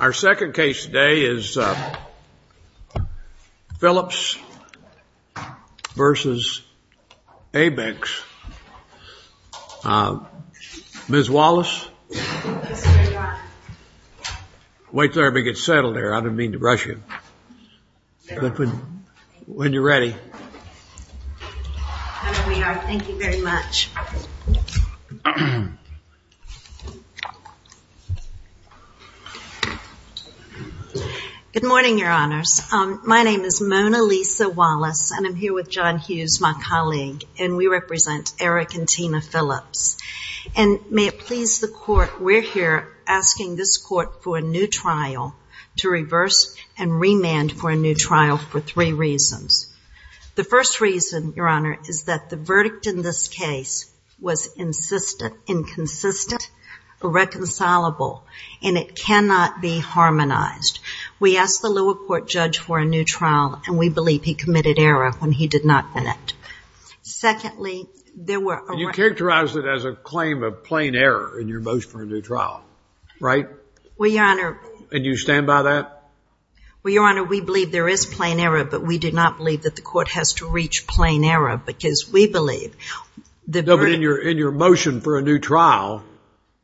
Our second case today is Phillips v. Abex, Ms. Wallace, wait till everybody gets settled there, I didn't mean to rush you, but when you're ready. Here we are, thank you very much. Good morning, your honors. My name is Mona Lisa Wallace, and I'm here with John Hughes, my colleague, and we represent Eric and Tina Phillips. And may it please the court, we're here asking this court for a new trial to reverse and remand for a new trial for three reasons. The first reason, your honor, is that the verdict in this case was insistent, inconsistent, irreconcilable, and it cannot be harmonized. We asked the lower court judge for a new trial, and we believe he committed error when he did not enact. Secondly, there were... And you characterized it as a claim of plain error in your motion for a new trial, right? Well, your honor... And you stand by that? Well, your honor, we believe there is plain error, but we do not believe that the court has to reach plain error, because we believe the verdict... No, but in your motion for a new trial,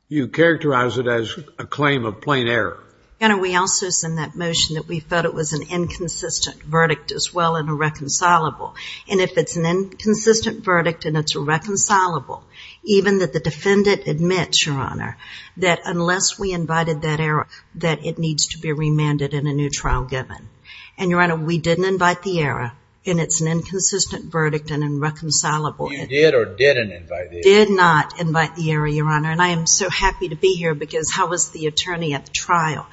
you characterized it as a claim of plain error. Your honor, we also said in that motion that we thought it was an inconsistent verdict as well and irreconcilable. And if it's an inconsistent verdict and it's irreconcilable, even that the defendant admits, your honor, that unless we invited that error, that it needs to be remanded in a new trial given. And your honor, we didn't invite the error, and it's an inconsistent verdict and irreconcilable. You did or didn't invite the error? We did not invite the error, your honor, and I am so happy to be here because I was the attorney at the trial.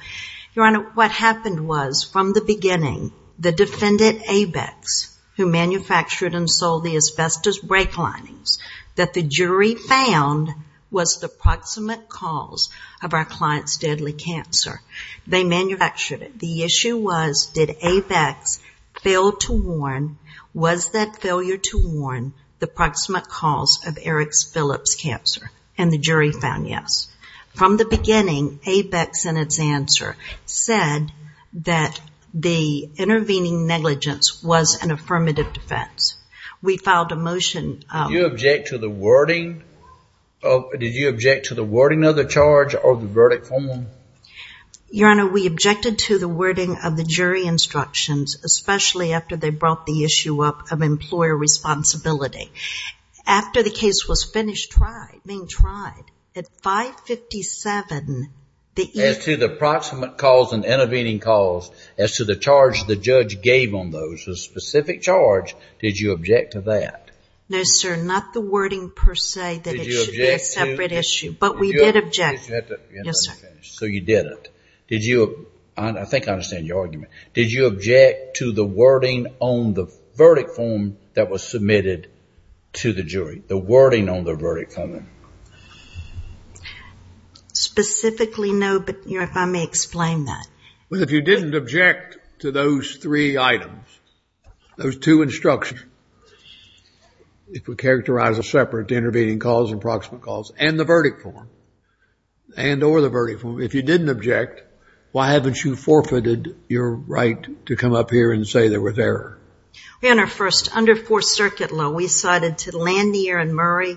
Your honor, what happened was, from the beginning, the defendant, Abex, who manufactured and sold the asbestos brake linings, that the jury found was the proximate cause of our client's deadly cancer. They manufactured it. The issue was, did Abex fail to warn, was that failure to warn the proximate cause of Eric Phillips' cancer? And the jury found yes. From the beginning, Abex, in its answer, said that the intervening negligence was an affirmative defense. We filed a motion... Did you object to the wording of the charge or the verdict form? Your honor, we objected to the wording of the jury instructions, especially after they brought the issue up of employer responsibility. After the case was finished being tried, at 557... As to the proximate cause and intervening cause, as to the charge the judge gave on those, the specific charge, did you object to that? No, sir, not the wording, per se, that it should be a separate issue, but we did object. So you didn't. I think I understand your argument. Did you object to the wording on the verdict form that was submitted to the jury? The wording on the verdict form. Specifically, no, but if I may explain that. Well, if you didn't object to those three items, those two instructions, if we characterize a separate intervening cause and proximate cause, and the verdict form, and or the verdict form, if you didn't object, why haven't you forfeited your right to come up here and say they were there? Your honor, first, under Fourth Circuit law, we decided to land the error in Murray.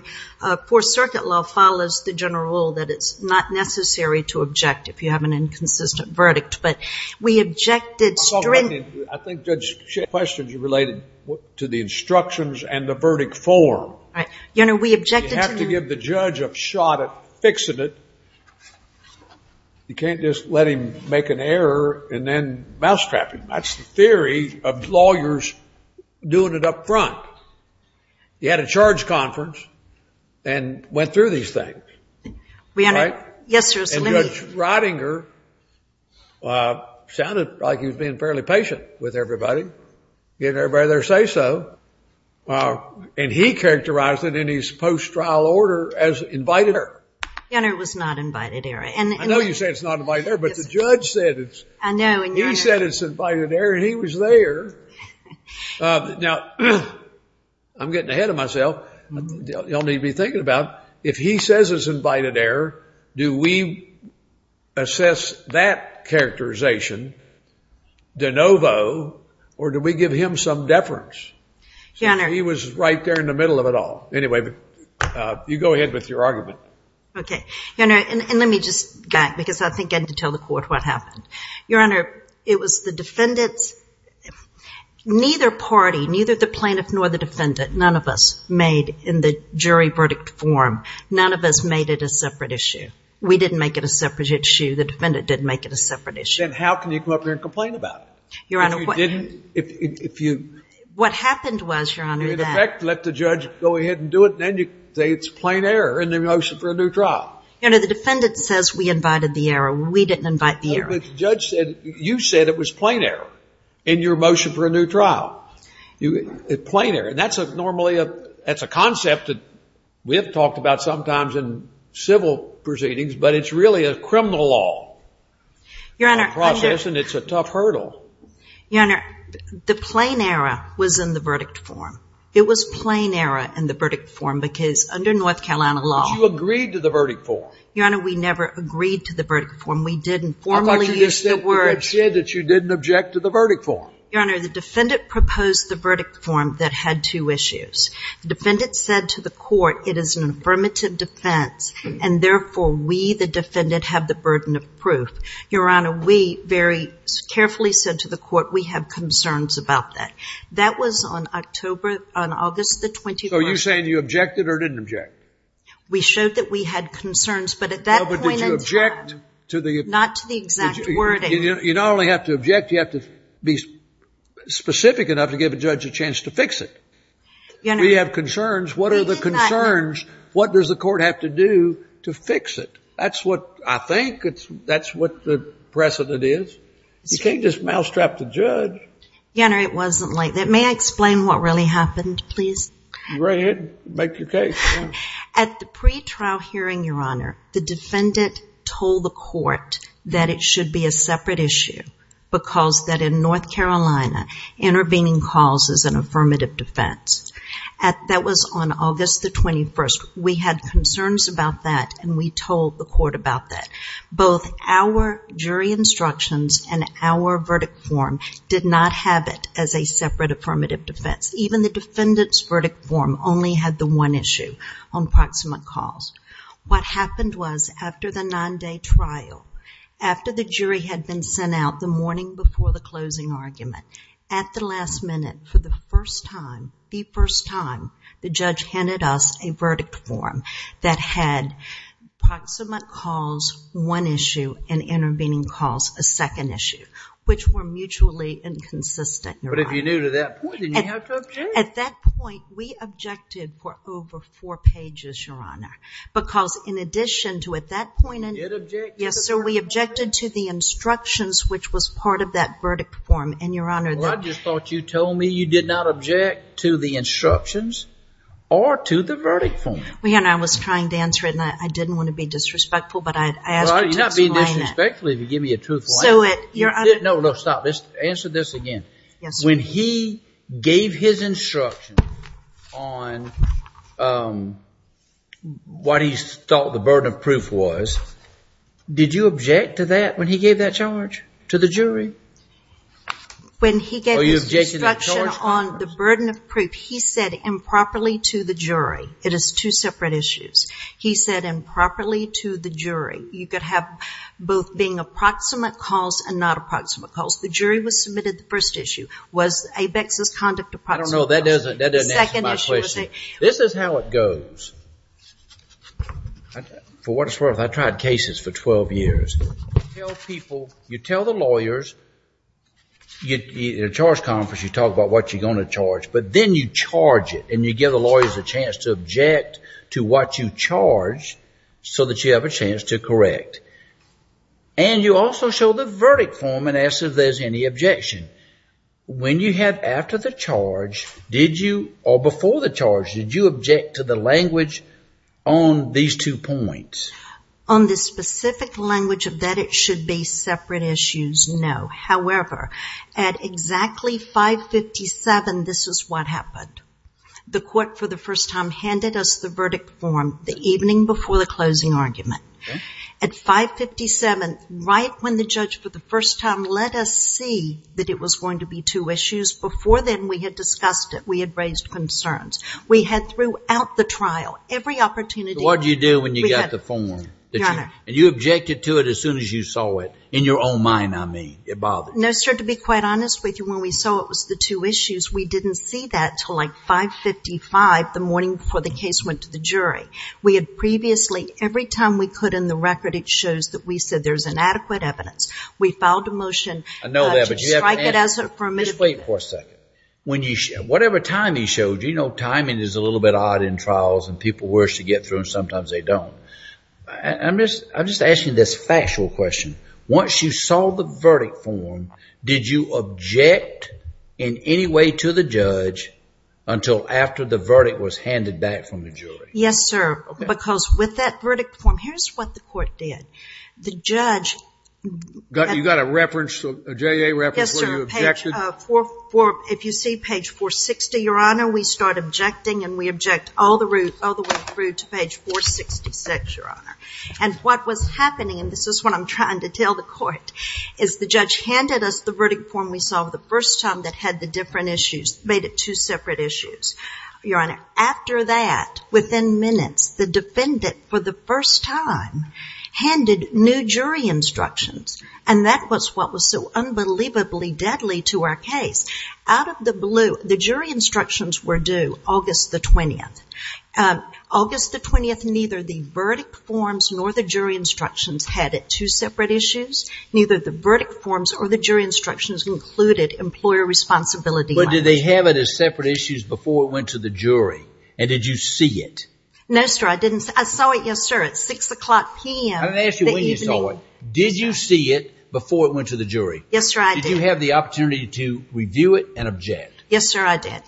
Fourth Circuit law follows the general rule that it's not necessary to object if you have an inconsistent verdict, but we objected... Your Honor, I think Judge Schiff's questions are related to the instructions and the verdict form. Your Honor, we objected to... You have to give the judge a shot at fixing it. You can't just let him make an error and then mousetrap him. That's the theory of lawyers doing it up front. He had a charge conference and went through these things. Your Honor, yes, sir, so let me... Get everybody to say so. And he characterized it in his post-trial order as invited error. Your Honor, it was not invited error. I know you say it's not invited error, but the judge said it's... I know, and your Honor... He said it's invited error, and he was there. Now, I'm getting ahead of myself. Y'all need to be thinking about if he says it's invited error, do we assess that characterization? De novo, or do we give him some deference? Your Honor... He was right there in the middle of it all. Anyway, you go ahead with your argument. Okay. Your Honor, and let me just... Because I think I need to tell the court what happened. Your Honor, it was the defendant's... Neither party, neither the plaintiff nor the defendant, none of us, made in the jury verdict form. None of us made it a separate issue. We didn't make it a separate issue. The defendant didn't make it a separate issue. Then how can you come up here and complain about it? Your Honor, what... If you didn't, if you... What happened was, Your Honor, that... In effect, let the judge go ahead and do it, and then you say it's plain error in the motion for a new trial. Your Honor, the defendant says we invited the error. We didn't invite the error. No, but the judge said... You said it was plain error in your motion for a new trial. Plain error, and that's normally a... That's a concept that we have talked about sometimes in civil proceedings, but it's really a criminal law. Your Honor... Process, and it's a tough hurdle. Your Honor, the plain error was in the verdict form. It was plain error in the verdict form because under North Carolina law... But you agreed to the verdict form. Your Honor, we never agreed to the verdict form. We didn't formally use the word... I thought you just said that you didn't object to the verdict form. Your Honor, the defendant proposed the verdict form that had two issues. The defendant said to the court it is an affirmative defense, and therefore we, the defendant, have the burden of proof. Your Honor, we very carefully said to the court we have concerns about that. That was on August the 21st. So you're saying you objected or didn't object? We showed that we had concerns, but at that point... No, but did you object to the... Not to the exact wording. You not only have to object, you have to be specific enough to give a judge a chance to fix it. We have concerns. What are the concerns? What does the court have to do to fix it? That's what I think. That's what the precedent is. You can't just mousetrap the judge. Your Honor, it wasn't like that. May I explain what really happened, please? Go ahead. Make your case. At the pretrial hearing, Your Honor, the defendant told the court that it should be a separate issue because that in North Carolina, intervening calls is an affirmative defense. That was on August the 21st. We had concerns about that and we told the court about that. Both our jury instructions and our verdict form did not have it as a separate affirmative defense. Even the defendant's verdict form only had the one issue on proximate calls. What happened was after the nine-day trial, after the jury had been sent out the morning before the closing argument, at the last minute for the first time, the first time, the judge handed us a verdict form that had proximate calls, one issue, and intervening calls, a second issue, which were mutually inconsistent. But if you knew to that point, didn't you have to object? We objected for over four pages, Your Honor, because in addition to at that point. You objected? Yes, sir. We objected to the instructions, which was part of that verdict form, and Your Honor. Well, I just thought you told me you did not object to the instructions or to the verdict form. Well, Your Honor, I was trying to answer it, and I didn't want to be disrespectful, but I asked you to explain that. Well, you're not being disrespectful if you give me a truthful answer. No, no, stop. Answer this again. Yes, sir. When he gave his instruction on what he thought the burden of proof was, did you object to that when he gave that charge to the jury? When he gave his instruction on the burden of proof, he said improperly to the jury. It is two separate issues. He said improperly to the jury. You could have both being approximate calls and not approximate calls. The jury was submitted the first issue. Was ABEX's conduct approximate? I don't know. That doesn't answer my question. The second issue was a- This is how it goes. For what it's worth, I tried cases for 12 years. You tell people, you tell the lawyers. At a charge conference, you talk about what you're going to charge, but then you charge it, and you give the lawyers a chance to object to what you charge so that you have a chance to correct. And you also show the verdict form and ask if there's any objection. When you had after the charge, did you, or before the charge, did you object to the language on these two points? On the specific language of that it should be separate issues, no. However, at exactly 557, this is what happened. The court, for the first time, handed us the verdict form the evening before the closing argument. At 557, right when the judge for the first time let us see that it was going to be two issues, before then we had discussed it. We had raised concerns. We had throughout the trial, every opportunity- What did you do when you got the form? Your Honor. And you objected to it as soon as you saw it, in your own mind, I mean. It bothered you. No, sir. To be quite honest with you, when we saw it was the two issues, we didn't see that until like 555, the morning before the case went to the jury. We had previously, every time we could in the record, it shows that we said there's inadequate evidence. We filed a motion- I know that, but you haven't answered it. To strike it as permissible. Just wait for a second. Whatever time he showed you, you know timing is a little bit odd in trials and people wish to get through and sometimes they don't. I'm just asking this factual question. Once you saw the verdict form, did you object in any way to the judge until after the verdict was handed back from the jury? Yes, sir. Because with that verdict form, here's what the court did. The judge- You got a reference, a JA reference where you objected? Yes, sir. If you see page 460, Your Honor, we start objecting and we object all the way through to page 466, Your Honor. And what was happening, and this is what I'm trying to tell the court, is the judge handed us the verdict form we saw the first time that had the different issues, made it two separate issues. Your Honor, after that, within minutes, the defendant for the first time handed new jury instructions and that was what was so unbelievably deadly to our case. Out of the blue, the jury instructions were due August the 20th. August the 20th, neither the verdict forms nor the jury instructions had it two separate issues. Neither the verdict forms or the jury instructions included employer responsibility. But did they have it as separate issues before it went to the jury? And did you see it? No, sir, I didn't. I saw it, yes, sir, at 6 o'clock p.m. I'm going to ask you when you saw it. Did you see it before it went to the jury? Yes, sir, I did. Did you have the opportunity to review it and object? Yes, sir, I did.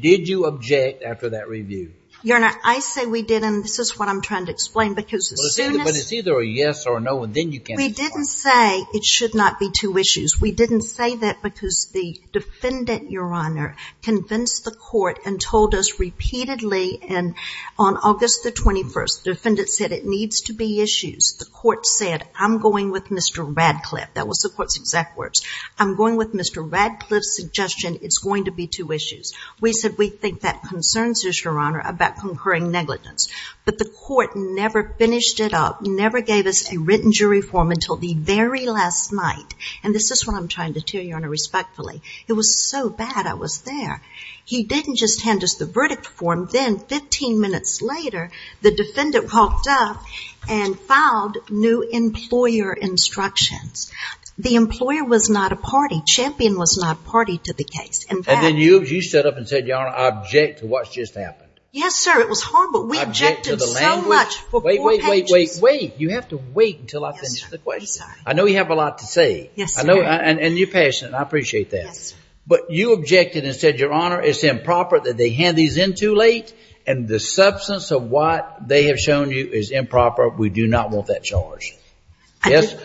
Did you object after that review? Your Honor, I say we didn't, and this is what I'm trying to explain, because as soon as- But it's either a yes or a no, and then you can't- We didn't say it should not be two issues. We didn't say that because the defendant, Your Honor, convinced the court and told us repeatedly, and on August the 21st, the defendant said it needs to be issues. The court said, I'm going with Mr. Radcliffe. That was the court's exact words. I'm going with Mr. Radcliffe's suggestion it's going to be two issues. We said we think that concerns you, Your Honor, about concurring negligence. But the court never finished it up, never gave us a written jury form until the very last night, and this is what I'm trying to tell you, Your Honor, respectfully. It was so bad I was there. He didn't just hand us the verdict form. Then 15 minutes later, the defendant walked up and filed new employer instructions. The employer was not a party. Champion was not party to the case. And then you stood up and said, Your Honor, I object to what's just happened. Yes, sir, it was horrible. We objected so much for four pages. Wait, wait, wait, wait, wait. You have to wait until I finish the question. Yes, sir, I'm sorry. I know you have a lot to say. Yes, sir. And you're passionate, and I appreciate that. Yes. But you objected and said, Your Honor, it's improper that they hand these in too late, and the substance of what they have shown you is improper. We do not want that charge.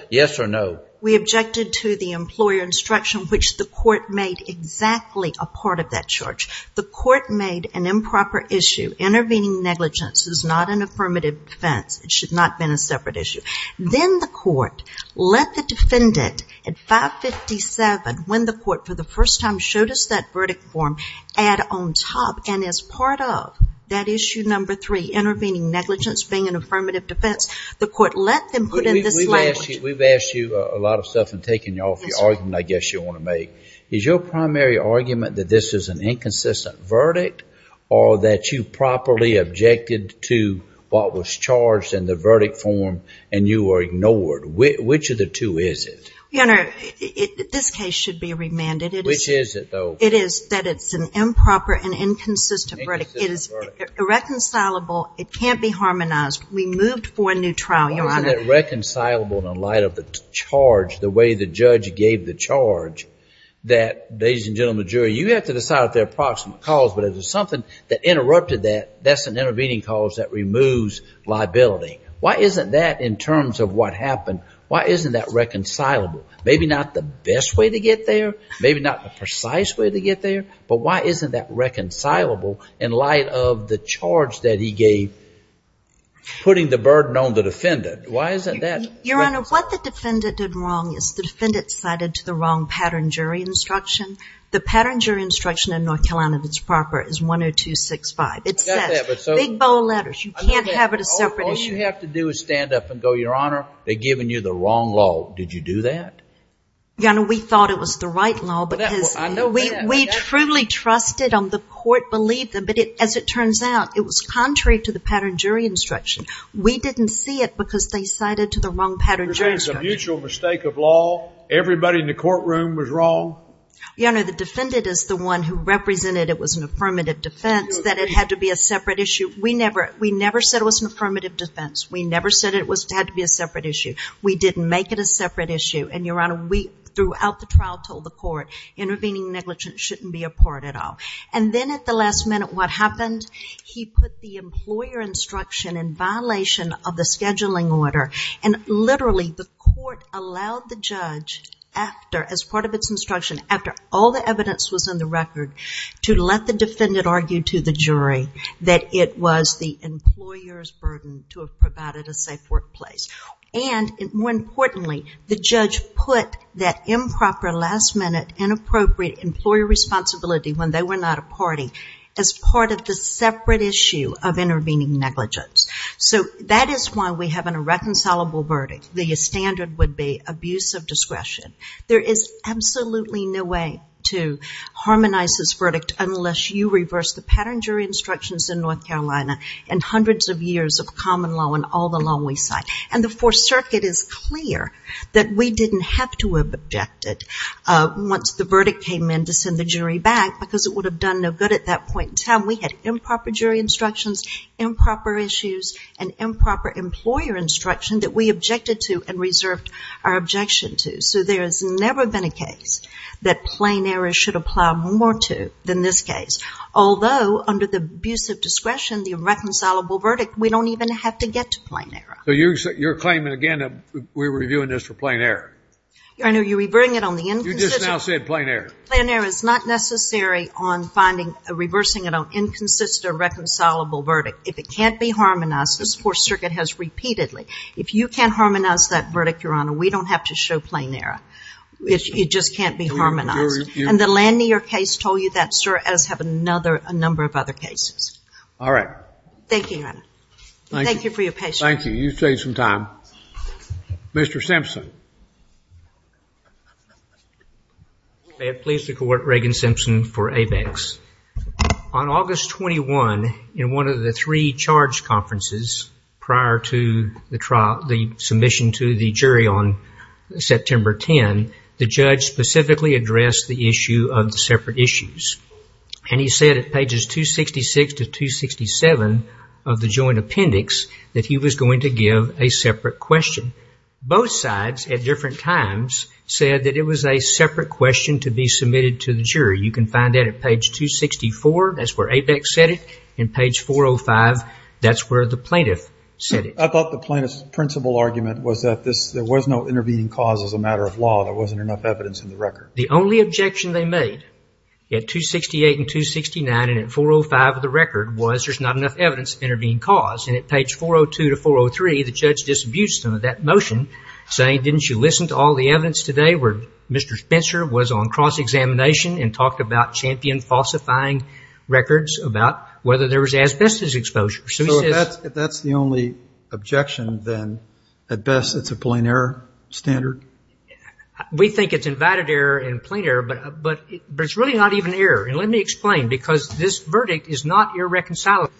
Yes or no? We objected to the employer instruction, which the court made exactly a part of that charge. The court made an improper issue. Intervening negligence is not an affirmative defense. It should not have been a separate issue. Then the court let the defendant at 557, when the court for the first time showed us that verdict form, add on top and as part of that issue number three, intervening negligence being an affirmative defense, the court let them put in this language. We've asked you a lot of stuff and taken you off your argument, I guess you want to make. Is your primary argument that this is an inconsistent verdict or that you properly objected to what was charged in the verdict form and you were ignored? Which of the two is it? Your Honor, this case should be remanded. Which is it, though? It is that it's an improper and inconsistent verdict. It is irreconcilable. It can't be harmonized. We moved for a new trial, Your Honor. Wasn't it reconcilable in the light of the charge, the way the judge gave the charge, that, ladies and gentlemen of the jury, you have to decide if they're a proximate cause, but if it's something that interrupted that, that's an intervening cause that removes liability? Why isn't that, in terms of what happened, why isn't that reconcilable? Maybe not the best way to get there, maybe not the precise way to get there, but why isn't that reconcilable in light of the charge that he gave putting the burden on the defendant? Why isn't that reconcilable? Your Honor, what the defendant did wrong is the defendant cited to the wrong pattern jury instruction. The pattern jury instruction in North Carolina that's proper is 102-65. It says, big bold letters. You can't have it a separate issue. All you have to do is stand up and go, Your Honor, they've given you the wrong law. Did you do that? Your Honor, we thought it was the right law because we truly trusted them. The court believed them, but as it turns out, it was contrary to the pattern jury instruction. We didn't see it because they cited to the wrong pattern jury instruction. You're saying it's a mutual mistake of law? Everybody in the courtroom was wrong? Your Honor, the defendant is the one who represented it was an affirmative defense, that it had to be a separate issue. We never said it was an affirmative defense. We never said it had to be a separate issue. We didn't make it a separate issue, and, Your Honor, we, throughout the trial, told the court intervening negligence shouldn't be a part at all. And then at the last minute, what happened? He put the employer instruction in violation of the scheduling order. And, literally, the court allowed the judge, as part of its instruction, after all the evidence was in the record, to let the defendant argue to the jury that it was the employer's burden to have provided a safe workplace. And, more importantly, the judge put that improper, last-minute, inappropriate employer responsibility when they were not a party as part of the separate issue of intervening negligence. So that is why we have an irreconcilable verdict. The standard would be abuse of discretion. There is absolutely no way to harmonize this verdict unless you reverse the pattern jury instructions in North Carolina and hundreds of years of common law and all the law we cite. And the Fourth Circuit is clear that we didn't have to have objected once the verdict came in to send the jury back because it would have done no good at that point in time. We had improper jury instructions, improper issues, and improper employer instruction that we objected to and reserved our objection to. So there has never been a case that plain error should apply more to than this case. Although, under the abuse of discretion, the irreconcilable verdict, we don't even have to get to plain error. So you're claiming again that we're reviewing this for plain error? Your Honor, you're reverting it on the inconsistent. You just now said plain error. Plain error is not necessary on reversing it on inconsistent irreconcilable verdict. If it can't be harmonized, the Fourth Circuit has repeatedly. If you can't harmonize that verdict, Your Honor, we don't have to show plain error. It just can't be harmonized. And the Lanier case told you that, sir, as have a number of other cases. All right. Thank you, Your Honor. Thank you for your patience. Thank you. You've saved some time. Mr. Simpson. May it please the Court, Reagan Simpson for ABEX. On August 21, in one of the three charge conferences prior to the trial, the submission to the jury on September 10, the judge specifically addressed the issue of the separate issues. And he said at pages 266 to 267 of the joint appendix that he was going to give a separate question. Both sides at different times said that it was a separate question to be submitted to the jury. You can find that at page 264. That's where ABEX said it. And page 405, that's where the plaintiff said it. I thought the plaintiff's principle argument was that there was no intervening cause as a matter of law. There wasn't enough evidence in the record. The only objection they made, at 268 and 269 and at 405 of the record, was there's not enough evidence of intervening cause. And at page 402 to 403, the judge disabused them of that motion, saying didn't you listen to all the evidence today where Mr. Spencer was on cross-examination and talked about champion falsifying records about whether there was asbestos exposure. So if that's the only objection, then at best it's a plain error standard? We think it's invited error and plain error, but it's really not even error. And let me explain, because this verdict is not irreconcilable.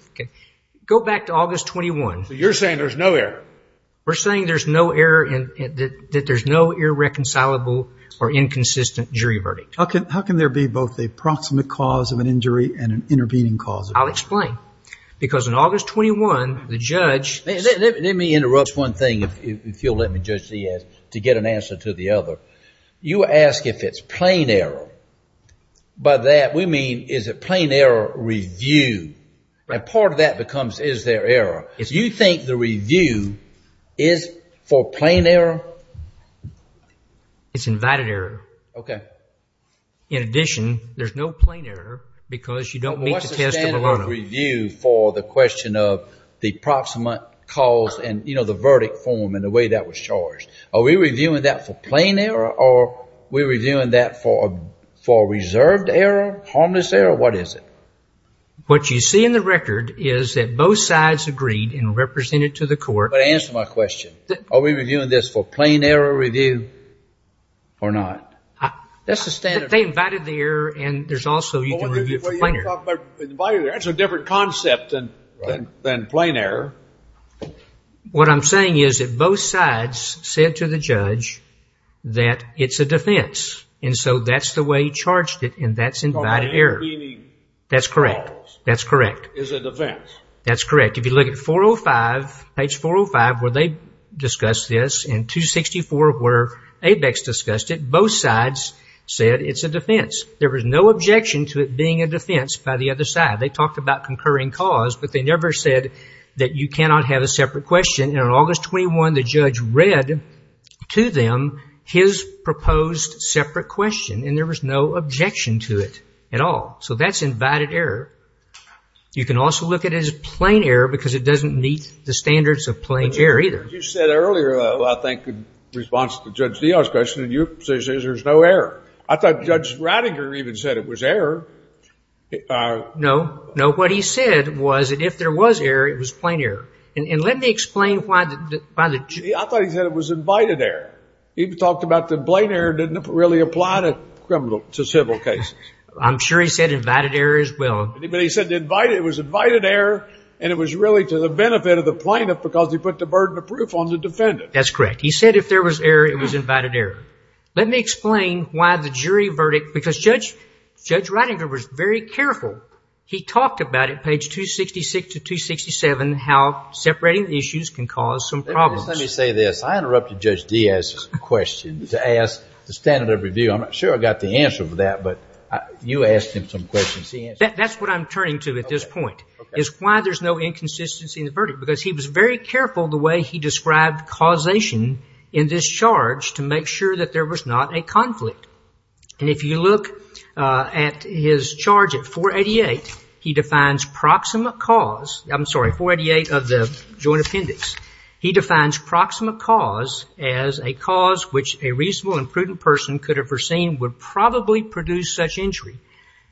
Go back to August 21. So you're saying there's no error? We're saying there's no error and that there's no irreconcilable or inconsistent jury verdict. How can there be both a proximate cause of an injury and an intervening cause? I'll explain. Because on August 21, the judge Let me interrupt one thing, if you'll let me, Judge Diaz, to get an answer to the other. You ask if it's plain error. By that we mean is it plain error review? And part of that becomes is there error? Do you think the review is for plain error? It's invited error. Okay. In addition, there's no plain error because you don't meet the test of a learner. for the question of the proximate cause and, you know, the verdict form and the way that was charged. Are we reviewing that for plain error or are we reviewing that for reserved error, harmless error? What is it? What you see in the record is that both sides agreed and represented to the court. Answer my question. Are we reviewing this for plain error review or not? That's the standard. That's a different concept than plain error. What I'm saying is that both sides said to the judge that it's a defense. And so that's the way he charged it and that's invited error. That's correct. That's correct. It's a defense. That's correct. If you look at 405, page 405, where they discussed this and 264 where ABEX discussed it, both sides said it's a defense. There was no objection to it being a defense by the other side. They talked about concurring cause, but they never said that you cannot have a separate question. And on August 21, the judge read to them his proposed separate question, and there was no objection to it at all. So that's invited error. You can also look at it as plain error because it doesn't meet the standards of plain error either. But you said earlier, I think, in response to Judge Neal's question, you said there's no error. I thought Judge Rattinger even said it was error. No. No. What he said was that if there was error, it was plain error. And let me explain why the – I thought he said it was invited error. He talked about the plain error didn't really apply to civil cases. I'm sure he said invited error as well. But he said it was invited error and it was really to the benefit of the plaintiff because he put the burden of proof on the defendant. That's correct. He said if there was error, it was invited error. Let me explain why the jury verdict – because Judge Rattinger was very careful. He talked about it, page 266 to 267, how separating the issues can cause some problems. Let me say this. I interrupted Judge Diaz's question to ask the standard of review. I'm not sure I got the answer for that, but you asked him some questions. That's what I'm turning to at this point is why there's no inconsistency in the verdict because he was very careful the way he described causation in this charge to make sure that there was not a conflict. And if you look at his charge at 488, he defines proximate cause – I'm sorry, 488 of the joint appendix. He defines proximate cause as a cause which a reasonable and prudent person could have foreseen would probably produce such injury.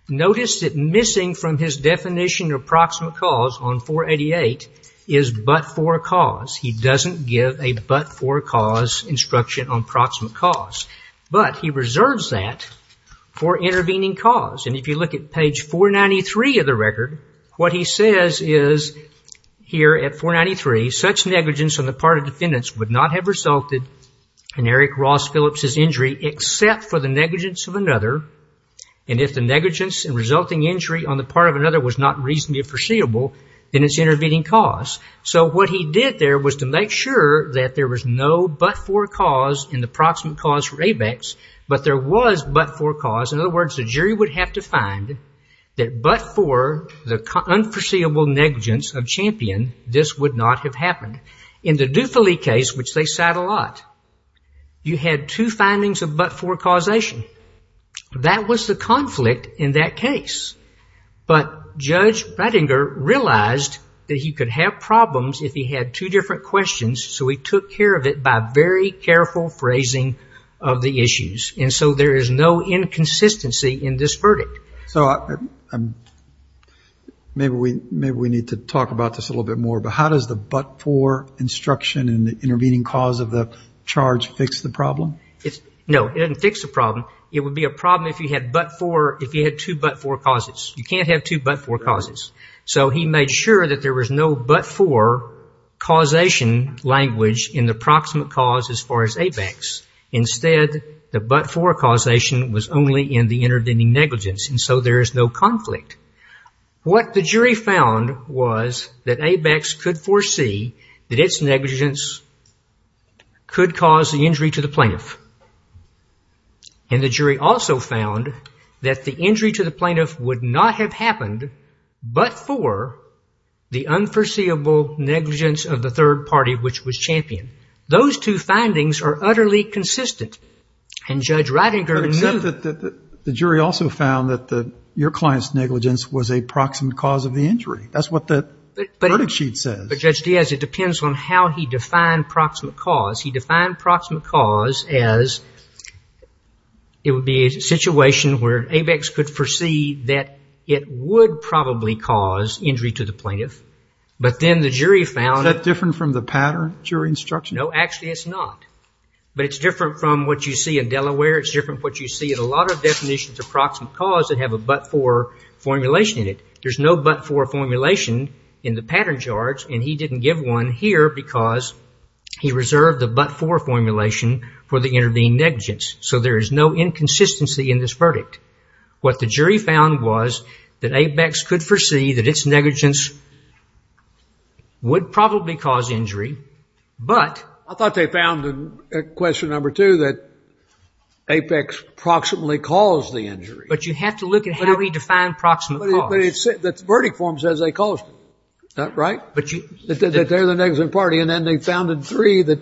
Notice that missing from his definition of proximate cause on 488 is but for a cause. He doesn't give a but for a cause instruction on proximate cause, but he reserves that for intervening cause. And if you look at page 493 of the record, what he says is here at 493, such negligence on the part of defendants would not have resulted in Eric Ross Phillips's injury except for the negligence of another. And if the negligence and resulting injury on the part of another was not reasonably foreseeable, then it's intervening cause. So what he did there was to make sure that there was no but for a cause in the proximate cause for ABEX, but there was but for a cause. In other words, the jury would have to find that but for the unforeseeable negligence of Champion, this would not have happened. In the Dufali case, which they cite a lot, you had two findings of but for causation. That was the conflict in that case. But Judge Brattinger realized that he could have problems if he had two different questions, so he took care of it by very careful phrasing of the issues. And so there is no inconsistency in this verdict. So maybe we need to talk about this a little bit more, but how does the but for instruction in the intervening cause of the charge fix the problem? No, it doesn't fix the problem. It would be a problem if you had two but for causes. You can't have two but for causes. So he made sure that there was no but for causation language in the proximate cause as far as ABEX. Instead, the but for causation was only in the intervening negligence, and so there is no conflict. What the jury found was that ABEX could foresee that its negligence could cause the injury to the plaintiff. And the jury also found that the injury to the plaintiff would not have happened but for the unforeseeable negligence of the third party, which was Champion. Those two findings are utterly consistent. And Judge Ridinger knew. Except that the jury also found that your client's negligence was a proximate cause of the injury. That's what the verdict sheet says. But, Judge Diaz, it depends on how he defined proximate cause. He defined proximate cause as it would be a situation where ABEX could foresee that it would probably cause injury to the plaintiff, but then the jury found it. Is that different from the pattern jury instruction? No, actually it's not. But it's different from what you see in Delaware. It's different from what you see in a lot of definitions of proximate cause that have a but for formulation in it. There's no but for formulation in the pattern charge, and he didn't give one here because he reserved the but for formulation for the intervening negligence. So there is no inconsistency in this verdict. What the jury found was that ABEX could foresee that its negligence would probably cause injury, but... Question number two, that APEX proximately caused the injury. But you have to look at how he defined proximate cause. But the verdict form says they caused it, right? That they're the negligent party, and then they found in three that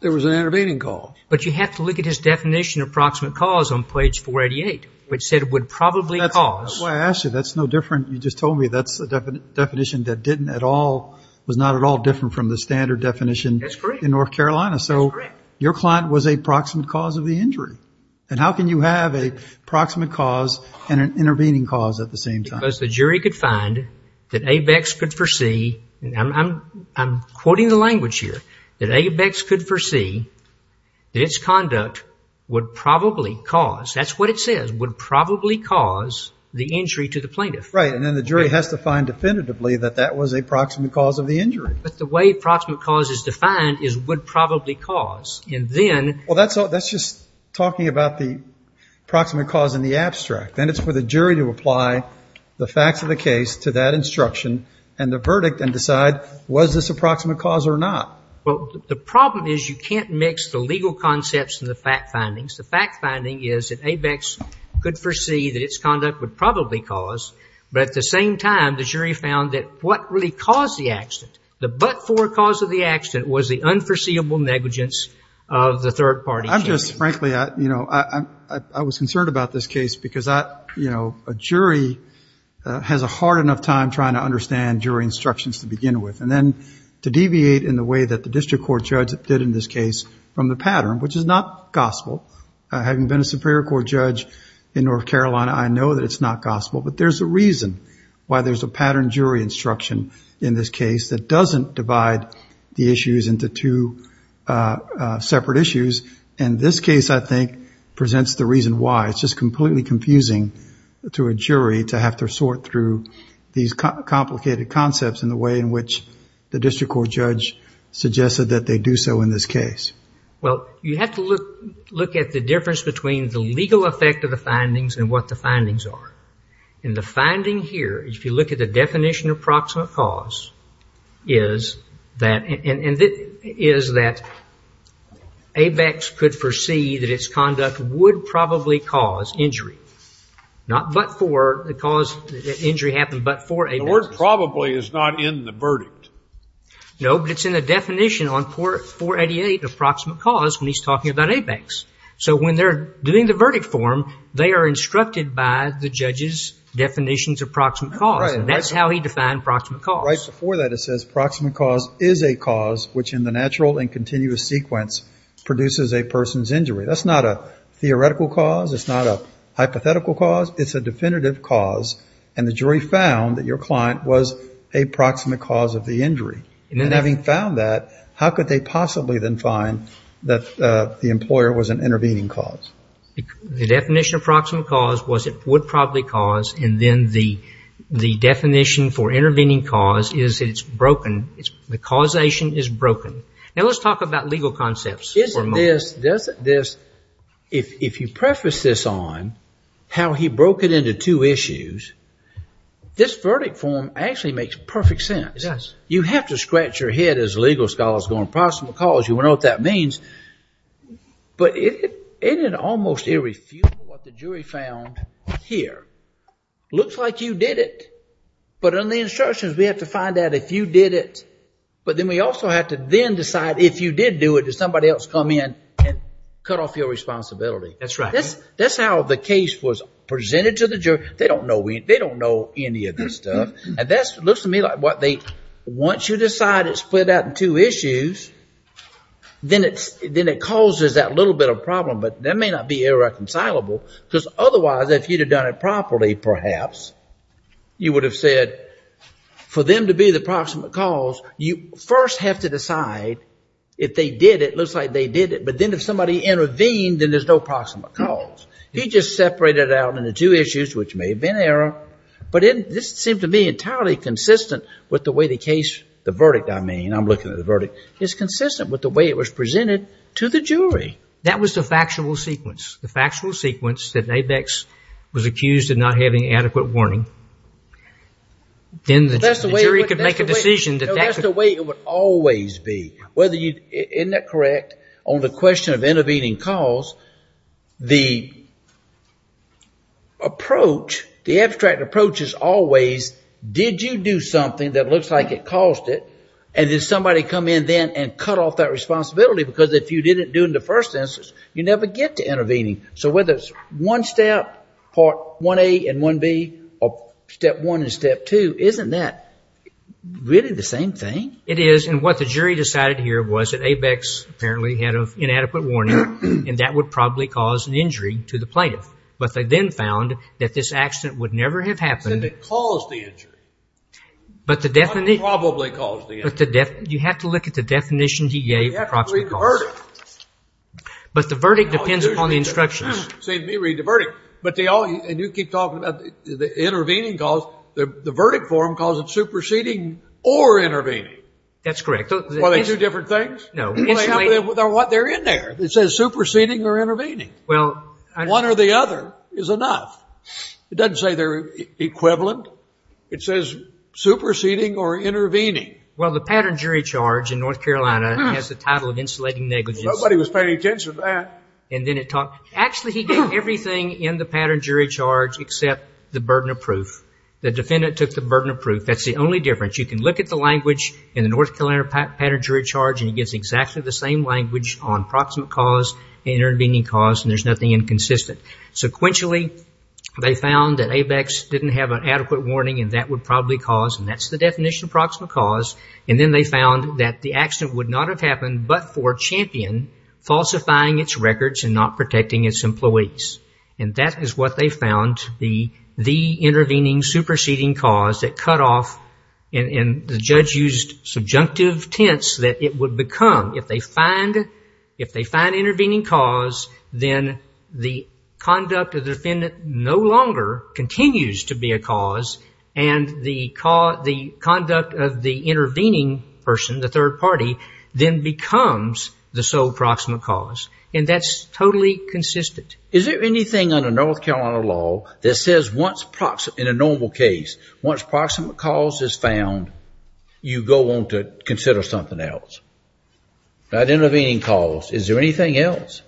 there was an intervening cause. But you have to look at his definition of proximate cause on page 488, which said it would probably cause... That's why I asked you. That's no different. You just told me that's a definition that didn't at all, was not at all different from the standard definition in North Carolina. That's correct. So your client was a proximate cause of the injury. And how can you have a proximate cause and an intervening cause at the same time? Because the jury could find that ABEX could foresee, and I'm quoting the language here, that ABEX could foresee that its conduct would probably cause, that's what it says, would probably cause the injury to the plaintiff. Right, and then the jury has to find definitively that that was a proximate cause of the injury. But the way proximate cause is defined is would probably cause. And then... Well, that's just talking about the proximate cause in the abstract. Then it's for the jury to apply the facts of the case to that instruction and the verdict and decide was this a proximate cause or not. Well, the problem is you can't mix the legal concepts and the fact findings. The fact finding is that ABEX could foresee that its conduct would probably cause, but at the same time the jury found that what really caused the accident, the but-for cause of the accident was the unforeseeable negligence of the third party. I'm just frankly, you know, I was concerned about this case because, you know, a jury has a hard enough time trying to understand jury instructions to begin with. And then to deviate in the way that the district court judge did in this case from the pattern, which is not gospel, having been a Superior Court judge in North Carolina, I know that it's not gospel, but there's a reason why there's a pattern jury instruction in this case that doesn't divide the issues into two separate issues. And this case, I think, presents the reason why. It's just completely confusing to a jury to have to sort through these complicated concepts and the way in which the district court judge suggested that they do so in this case. Well, you have to look at the difference between the legal effect of the findings and what the findings are. And the finding here, if you look at the definition of proximate cause, is that ABEX could foresee that its conduct would probably cause injury, not but-for the cause that injury happened, but for ABEX. The word probably is not in the verdict. No, but it's in the definition on 488, approximate cause, when he's talking about ABEX. So when they're doing the verdict form, they are instructed by the judge's definitions of proximate cause, and that's how he defined proximate cause. Right before that, it says proximate cause is a cause which in the natural and continuous sequence produces a person's injury. That's not a theoretical cause. It's not a hypothetical cause. It's a definitive cause, and the jury found that your client was a proximate cause of the injury. And having found that, how could they possibly then find that the employer was an intervening cause? The definition of proximate cause was it would probably cause, and then the definition for intervening cause is that it's broken. The causation is broken. Now let's talk about legal concepts for a moment. Isn't this, if you preface this on how he broke it into two issues, this verdict form actually makes perfect sense. You have to scratch your head as legal scholars going proximate cause. You want to know what that means, but it almost irrefutable what the jury found here. Looks like you did it, but under the instructions we have to find out if you did it, but then we also have to then decide if you did do it, did somebody else come in and cut off your responsibility. That's right. That's how the case was presented to the jury. They don't know any of this stuff, and that looks to me like once you decide it's split out in two issues, then it causes that little bit of problem, but that may not be irreconcilable, because otherwise if you'd have done it properly perhaps, you would have said for them to be the proximate cause, you first have to decide if they did it, looks like they did it, but then if somebody intervened, then there's no proximate cause. He just separated it out into two issues, which may have been error, but this seemed to me entirely consistent with the way the case, the verdict I mean, I'm looking at the verdict, is consistent with the way it was presented to the jury. That was the factual sequence. The factual sequence that Abex was accused of not having adequate warning. Then the jury could make a decision. That's the way it would always be. Isn't that correct? On the question of intervening cause, the approach, the abstract approach is always did you do something that looks like it caused it, and did somebody come in then and cut off that responsibility, because if you didn't do it in the first instance, you never get to intervening. So whether it's one step, part 1A and 1B, or step one and step two, isn't that really the same thing? It is, and what the jury decided here was that Abex apparently had inadequate warning, and that would probably cause an injury to the plaintiff. But they then found that this accident would never have happened. They said it caused the injury. It probably caused the injury. You have to look at the definitions he gave for proximate cause. You have to read the verdict. But the verdict depends upon the instructions. You say to me, read the verdict. And you keep talking about the intervening cause. The verdict form calls it superseding or intervening. That's correct. Are they two different things? No. They're in there. It says superseding or intervening. One or the other is enough. It doesn't say they're equivalent. It says superseding or intervening. Well, the pattern jury charge in North Carolina has the title of insulating negligence. Nobody was paying attention to that. Actually, he gave everything in the pattern jury charge except the burden of proof. The defendant took the burden of proof. That's the only difference. You can look at the language in the North Carolina pattern jury charge, and it gives exactly the same language on proximate cause and intervening cause, and there's nothing inconsistent. Sequentially, they found that Abex didn't have an adequate warning, and that would probably cause, and that's the definition of proximate cause. And then they found that the accident would not have happened but for Champion falsifying its records and not protecting its employees. And that is what they found, the intervening superseding cause that cut off, and the judge used subjunctive tense that it would become. If they find intervening cause, then the conduct of the defendant no longer continues to be a cause, and the conduct of the intervening person, the third party, then becomes the sole proximate cause. And that's totally consistent. Is there anything under North Carolina law that says once, in a normal case, once proximate cause is found, you go on to consider something else? Not intervening cause. Is there anything else?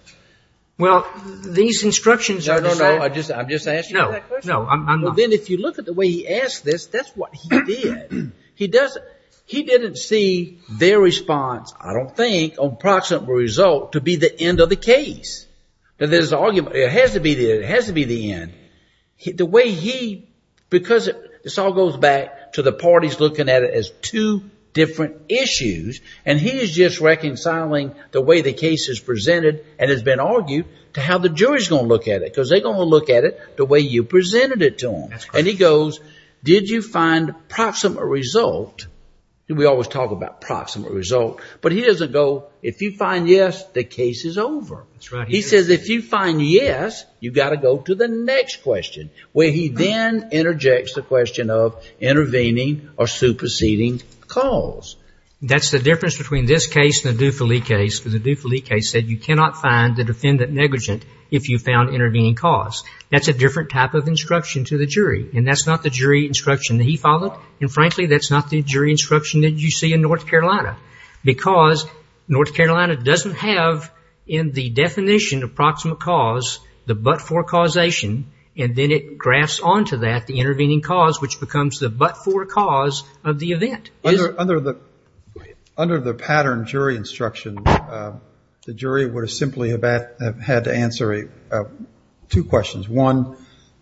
Well, these instructions are decided. No, no, no. I'm just asking that question. No, no. Then if you look at the way he asked this, that's what he did. He didn't see their response, I don't think, on proximate result, to be the end of the case. It has to be the end. The way he, because this all goes back to the parties looking at it as two different issues, and he is just reconciling the way the case is presented and has been argued to how the jury is going to look at it, because they're going to look at it the way you presented it to them. And he goes, did you find proximate result? We always talk about proximate result. But he doesn't go, if you find yes, the case is over. He says if you find yes, you've got to go to the next question, where he then interjects the question of intervening or superseding cause. That's the difference between this case and the Dufali case, because the Dufali case said you cannot find the defendant negligent if you found intervening cause. That's a different type of instruction to the jury, and that's not the jury instruction that he followed, and frankly that's not the jury instruction that you see in North Carolina, because North Carolina doesn't have in the definition of proximate cause the but-for causation, and then it grafts onto that the intervening cause, which becomes the but-for cause of the event. Under the pattern jury instruction, the jury would have simply had to answer two questions. One,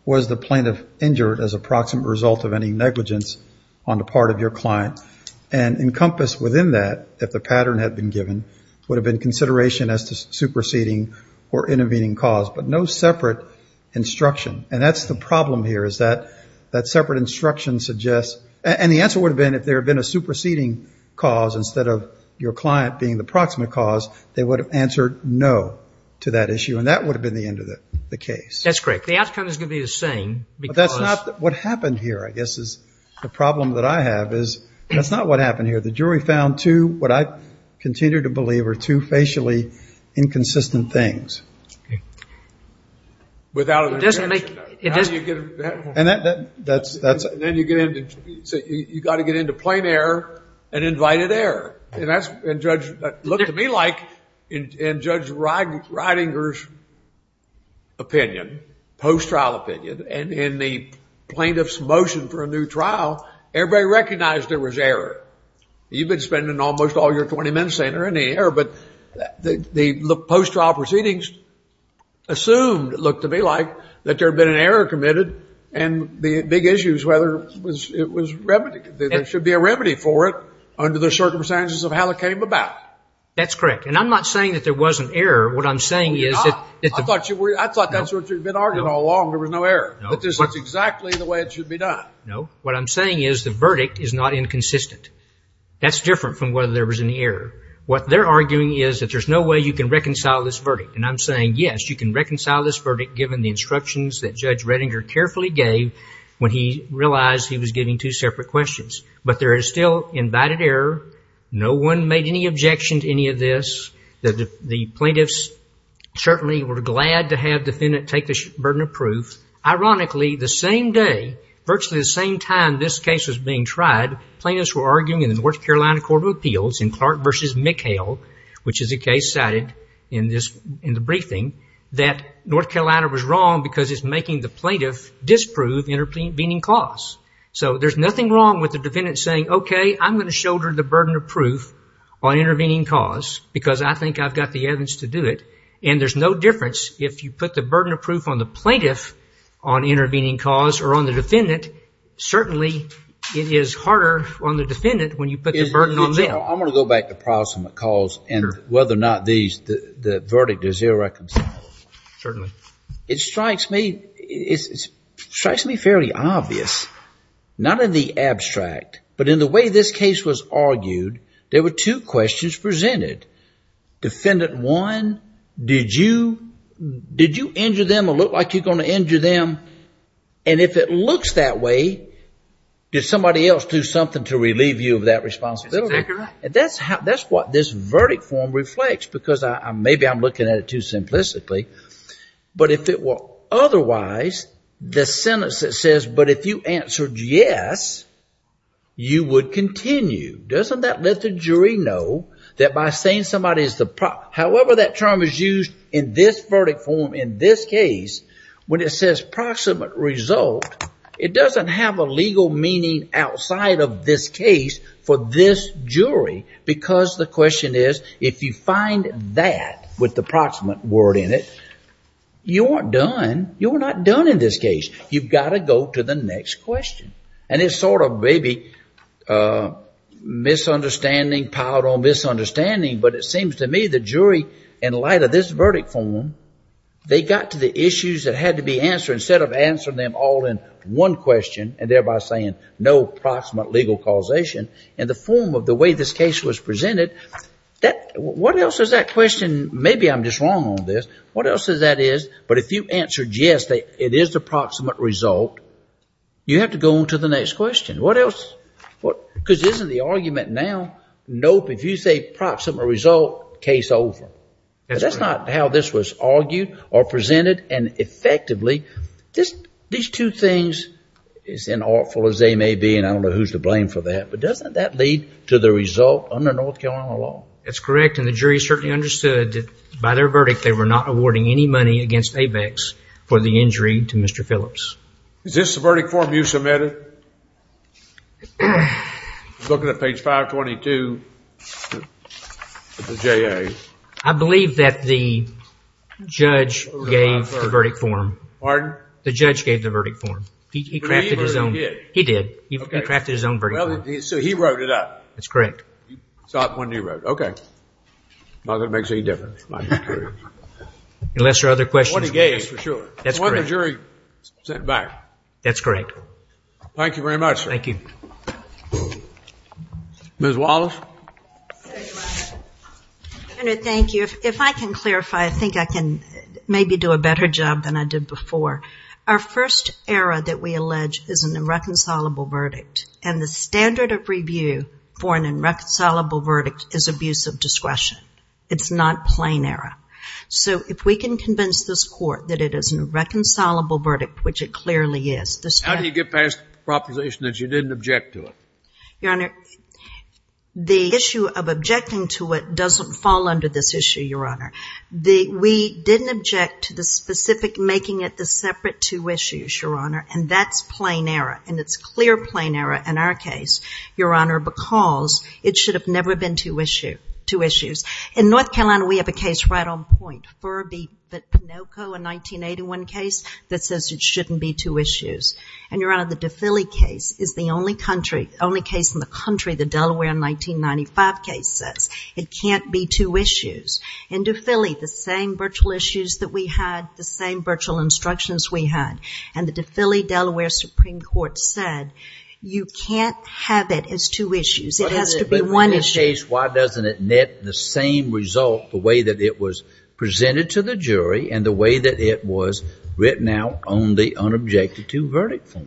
was the plaintiff injured as a proximate result of any negligence on the part of your client? And encompassed within that, if the pattern had been given, would have been consideration as to superseding or intervening cause, but no separate instruction. And that's the problem here is that that separate instruction suggests and the answer would have been if there had been a superseding cause instead of your client being the proximate cause, they would have answered no to that issue, and that would have been the end of the case. That's correct. The outcome is going to be the same. But that's not what happened here, I guess, is the problem that I have is that's not what happened here. The jury found two, what I continue to believe, are two facially inconsistent things. Okay. It doesn't make... And that's... You've got to get into plain error and invited error. And that's what it looked to me like in Judge Reidinger's opinion, post-trial opinion, and in the plaintiff's motion for a new trial, everybody recognized there was error. You've been spending almost all your 20 minutes saying there isn't any error, but the post-trial proceedings assumed, it looked to me like, that there had been an error committed, and the big issue is whether it was remedied. There should be a remedy for it under the circumstances of how it came about. That's correct. And I'm not saying that there was an error. What I'm saying is that... No, you're not. I thought that's what you'd been arguing all along, there was no error. No. But this is exactly the way it should be done. No. What I'm saying is the verdict is not inconsistent. That's different from whether there was an error. What they're arguing is that there's no way you can reconcile this verdict. And I'm saying, yes, you can reconcile this verdict, given the instructions that Judge Reidinger carefully gave when he realized he was getting two separate questions. But there is still invited error. No one made any objection to any of this. The plaintiffs certainly were glad to have the defendant take the burden of proof. Ironically, the same day, virtually the same time this case was being tried, plaintiffs were arguing in the North Carolina Court of Appeals in Clark v. McHale, which is a case cited in the briefing, that North Carolina was wrong because it's making the plaintiff disprove intervening cause. So there's nothing wrong with the defendant saying, okay, I'm going to shoulder the burden of proof on intervening cause because I think I've got the evidence to do it. And there's no difference if you put the burden of proof on the plaintiff on intervening cause or on the defendant. Certainly, it is harder on the defendant when you put the burden on them. I'm going to go back to prosummate cause and whether or not the verdict is irreconcilable. Certainly. It strikes me fairly obvious, not in the abstract, but in the way this case was argued, there were two questions presented. Defendant one, did you injure them or look like you're going to injure them? And if it looks that way, did somebody else do something to relieve you of that responsibility? That's what this verdict form reflects because maybe I'm looking at it too simplistically. But if it were otherwise, the sentence that says, but if you answered yes, you would continue. Doesn't that let the jury know that by saying somebody is the, however that term is used in this verdict form in this case, when it says proximate result, it doesn't have a legal meaning outside of this case for this jury because the question is, if you find that with the proximate word in it, you aren't done. You're not done in this case. You've got to go to the next question. And it's sort of maybe misunderstanding piled on misunderstanding. But it seems to me the jury, in light of this verdict form, they got to the issues that had to be answered instead of answering them all in one question and thereby saying no proximate legal causation in the form of the way this case was presented. What else is that question? Maybe I'm just wrong on this. What else is that is? But if you answered yes, it is the proximate result. You have to go on to the next question. What else? Because isn't the argument now? Nope, if you say proximate result, case over. That's not how this was argued or presented. And effectively, these two things, as unlawful as they may be, and I don't know who's to blame for that, but doesn't that lead to the result under North Carolina law? That's correct, and the jury certainly understood that by their verdict, they were not awarding any money against paybacks for the injury to Mr. Phillips. Is this the verdict form you submitted? I'm looking at page 522 of the JA. I believe that the judge gave the verdict form. Pardon? The judge gave the verdict form. He crafted his own. He did. He crafted his own verdict form. So he wrote it up. That's correct. You saw it when he wrote it. Okay. Not going to make any difference. Unless there are other questions. What he gave is for sure. That's correct. What the jury sent back. That's correct. Thank you very much. Thank you. Ms. Wallace. Senator, thank you. If I can clarify, I think I can maybe do a better job than I did before. Our first error that we allege is an irreconcilable verdict, and the standard of review for an irreconcilable verdict is abuse of discretion. It's not plain error. So if we can convince this court that it is an irreconcilable verdict, which it clearly is. How do you get past the proposition that you didn't object to it? Your Honor, the issue of objecting to it doesn't fall under this issue, Your Honor. We didn't object to the specific making it the separate two issues, Your Honor, and that's plain error. And it's clear plain error in our case, Your Honor, because it should have never been two issues. In North Carolina, we have a case right on point, Furby v. Pinoco, a 1981 case, that says it shouldn't be two issues. And, Your Honor, the DeFilly case is the only case in the country the Delaware 1995 case says it can't be two issues. In DeFilly, the same virtual issues that we had, the same virtual instructions we had, and the DeFilly Delaware Supreme Court said you can't have it as two issues. It has to be one issue. In this case, why doesn't it net the same result the way that it was presented to the jury and the way that it was written out on the unobjected to verdict form?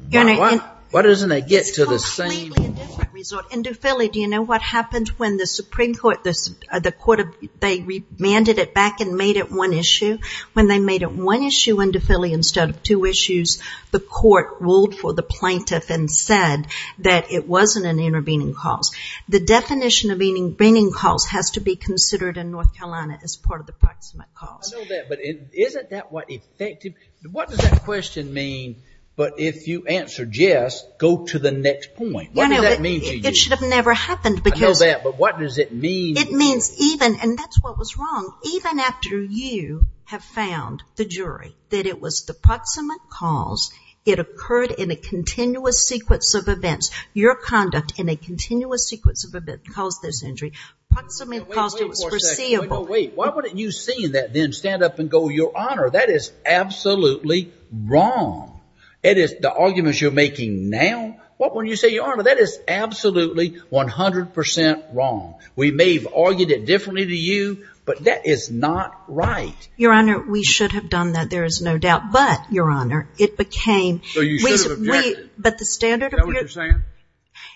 Why doesn't it get to the same? It's completely a different result. In DeFilly, do you know what happened when the Supreme Court, the court, they remanded it back and made it one issue? When they made it one issue in DeFilly instead of two issues, the court ruled for the plaintiff and said that it wasn't an intervening cause. The definition of intervening cause has to be considered in North Carolina as part of the proximate cause. I know that, but isn't that what effected? What does that question mean, but if you answer yes, go to the next point? What does that mean to you? It should have never happened. I know that, but what does it mean? It means even, and that's what was wrong, even after you have found the jury that it was the proximate cause, it occurred in a continuous sequence of events. Your conduct in a continuous sequence of events caused this injury. Proximate cause was foreseeable. Wait a second. Why wouldn't you see that and then stand up and go, Your Honor, that is absolutely wrong. The arguments you're making now, when you say, Your Honor, that is absolutely 100% wrong. We may have argued it differently to you, but that is not right. Your Honor, we should have done that, there is no doubt. But, Your Honor, it became. So you should have objected. But the standard. Is that what you're saying?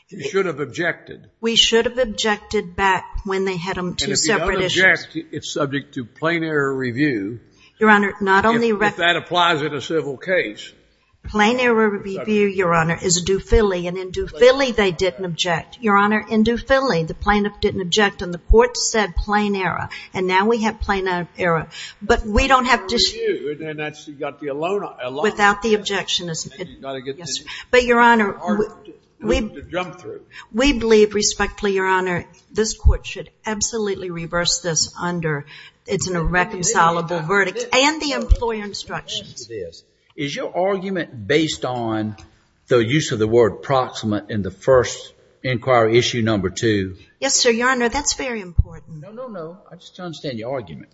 You should have objected. We should have objected back when they had two separate issues. And if you don't object, it's subject to plain error review. Your Honor, not only. If that applies in a civil case. Plain error review, Your Honor, is a doofilly, and in doofilly they didn't object. Your Honor, in doofilly the plaintiff didn't object and the court said plain error, and now we have plain error. But we don't have to. And that's got the alone. Without the objection. But, Your Honor, we believe respectfully, Your Honor, this court should absolutely reverse this under it's an irreconcilable verdict. And the employer instructions. Is your argument based on the use of the word proximate in the first inquiry, issue number two? Yes, sir, Your Honor, that's very important. I just don't understand your argument.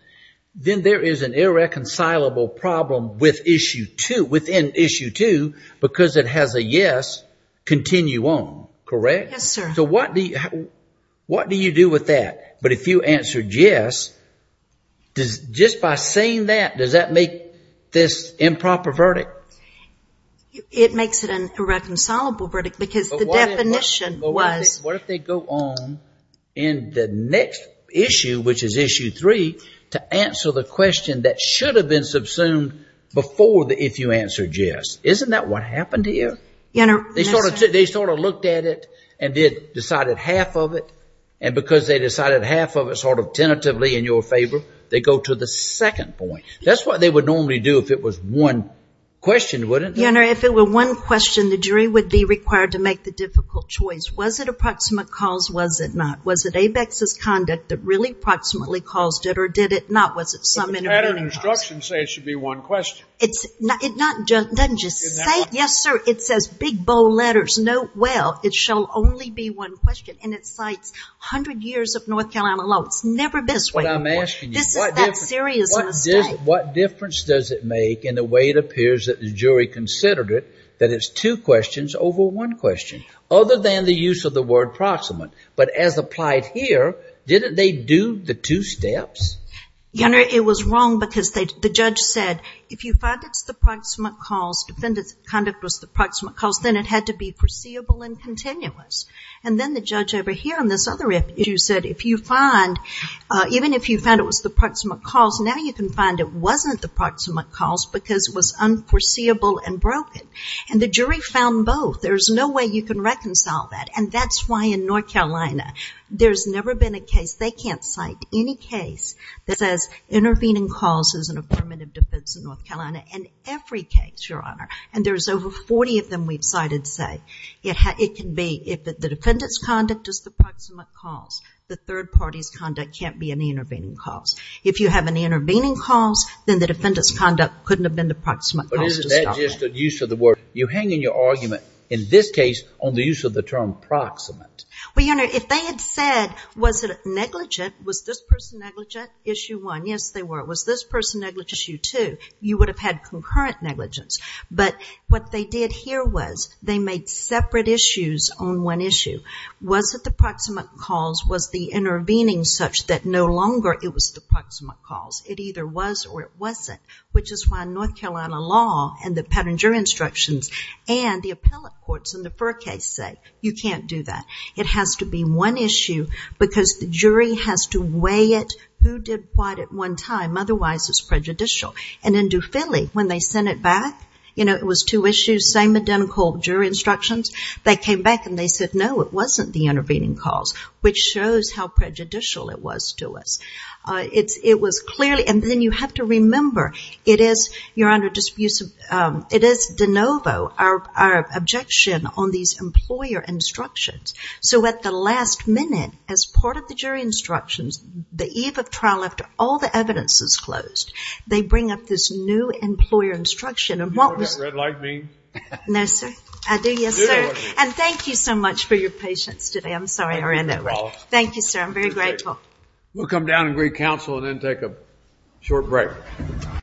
Then there is an irreconcilable problem with issue two, within issue two, because it has a yes, continue on. Correct? Yes, sir. So what do you do with that? But if you answered yes, just by saying that, does that make this improper verdict? It makes it an irreconcilable verdict because the definition was. What if they go on in the next issue, which is issue three, to answer the question that should have been subsumed before the if you answered yes. Isn't that what happened here? Your Honor. They sort of looked at it and decided half of it, and because they decided half of it sort of tentatively in your favor, they go to the second point. That's what they would normally do if it was one question, wouldn't they? Your Honor, if it were one question, the jury would be required to make the difficult choice. Was it a proximate cause? Was it not? Was it Abex's conduct that really proximately caused it, or did it not? Was it some intervening cause? The pattern instructions say it should be one question. It doesn't just say it. Yes, sir. It says big, bold letters. Note well it shall only be one question. And it cites 100 years of North Carolina law. It's never been this way before. This is that serious mistake. What difference does it make in the way it appears that the jury considered it, that it's two questions over one question? Other than the use of the word proximate. But as applied here, didn't they do the two steps? Your Honor, it was wrong because the judge said if you find it's the proximate cause, defendant's conduct was the proximate cause, then it had to be foreseeable and continuous. And then the judge over here on this other issue said if you find, even if you found it was the proximate cause, now you can find it wasn't the proximate cause because it was unforeseeable and broken. And the jury found both. There's no way you can reconcile that. And that's why in North Carolina there's never been a case, they can't cite any case that says intervening cause isn't a permanent defense in North Carolina in every case, Your Honor. And there's over 40 of them we've cited say. It can be if the defendant's conduct is the proximate cause, the third party's conduct can't be an intervening cause. If you have an intervening cause, then the defendant's conduct couldn't have been the proximate cause. But isn't that just a use of the word? You hang in your argument in this case on the use of the term proximate. Well, Your Honor, if they had said was it negligent, was this person negligent, issue one, yes, they were. Was this person negligent, issue two, you would have had concurrent negligence. But what they did here was they made separate issues on one issue. Was it the proximate cause, was the intervening such that no longer it was the proximate cause? It either was or it wasn't, which is why North Carolina law and the pattern jury instructions and the appellate courts in the first case say you can't do that. It has to be one issue because the jury has to weigh it. Who did what at one time? Otherwise, it's prejudicial. And in Dufili, when they sent it back, you know, it was two issues, same identical jury instructions. They came back and they said, no, it wasn't the intervening cause, which shows how prejudicial it was to us. It was clearly, and then you have to remember, it is, Your Honor, it is de novo our objection on these employer instructions. So at the last minute, as part of the jury instructions, the eve of trial after all the evidence is closed, they bring up this new employer instruction. Do you know what that red light means? No, sir. I do, yes, sir. And thank you so much for your patience today. I'm sorry I ran over. Thank you, sir. I'm very grateful. We'll come down and greet counsel and then take a short break.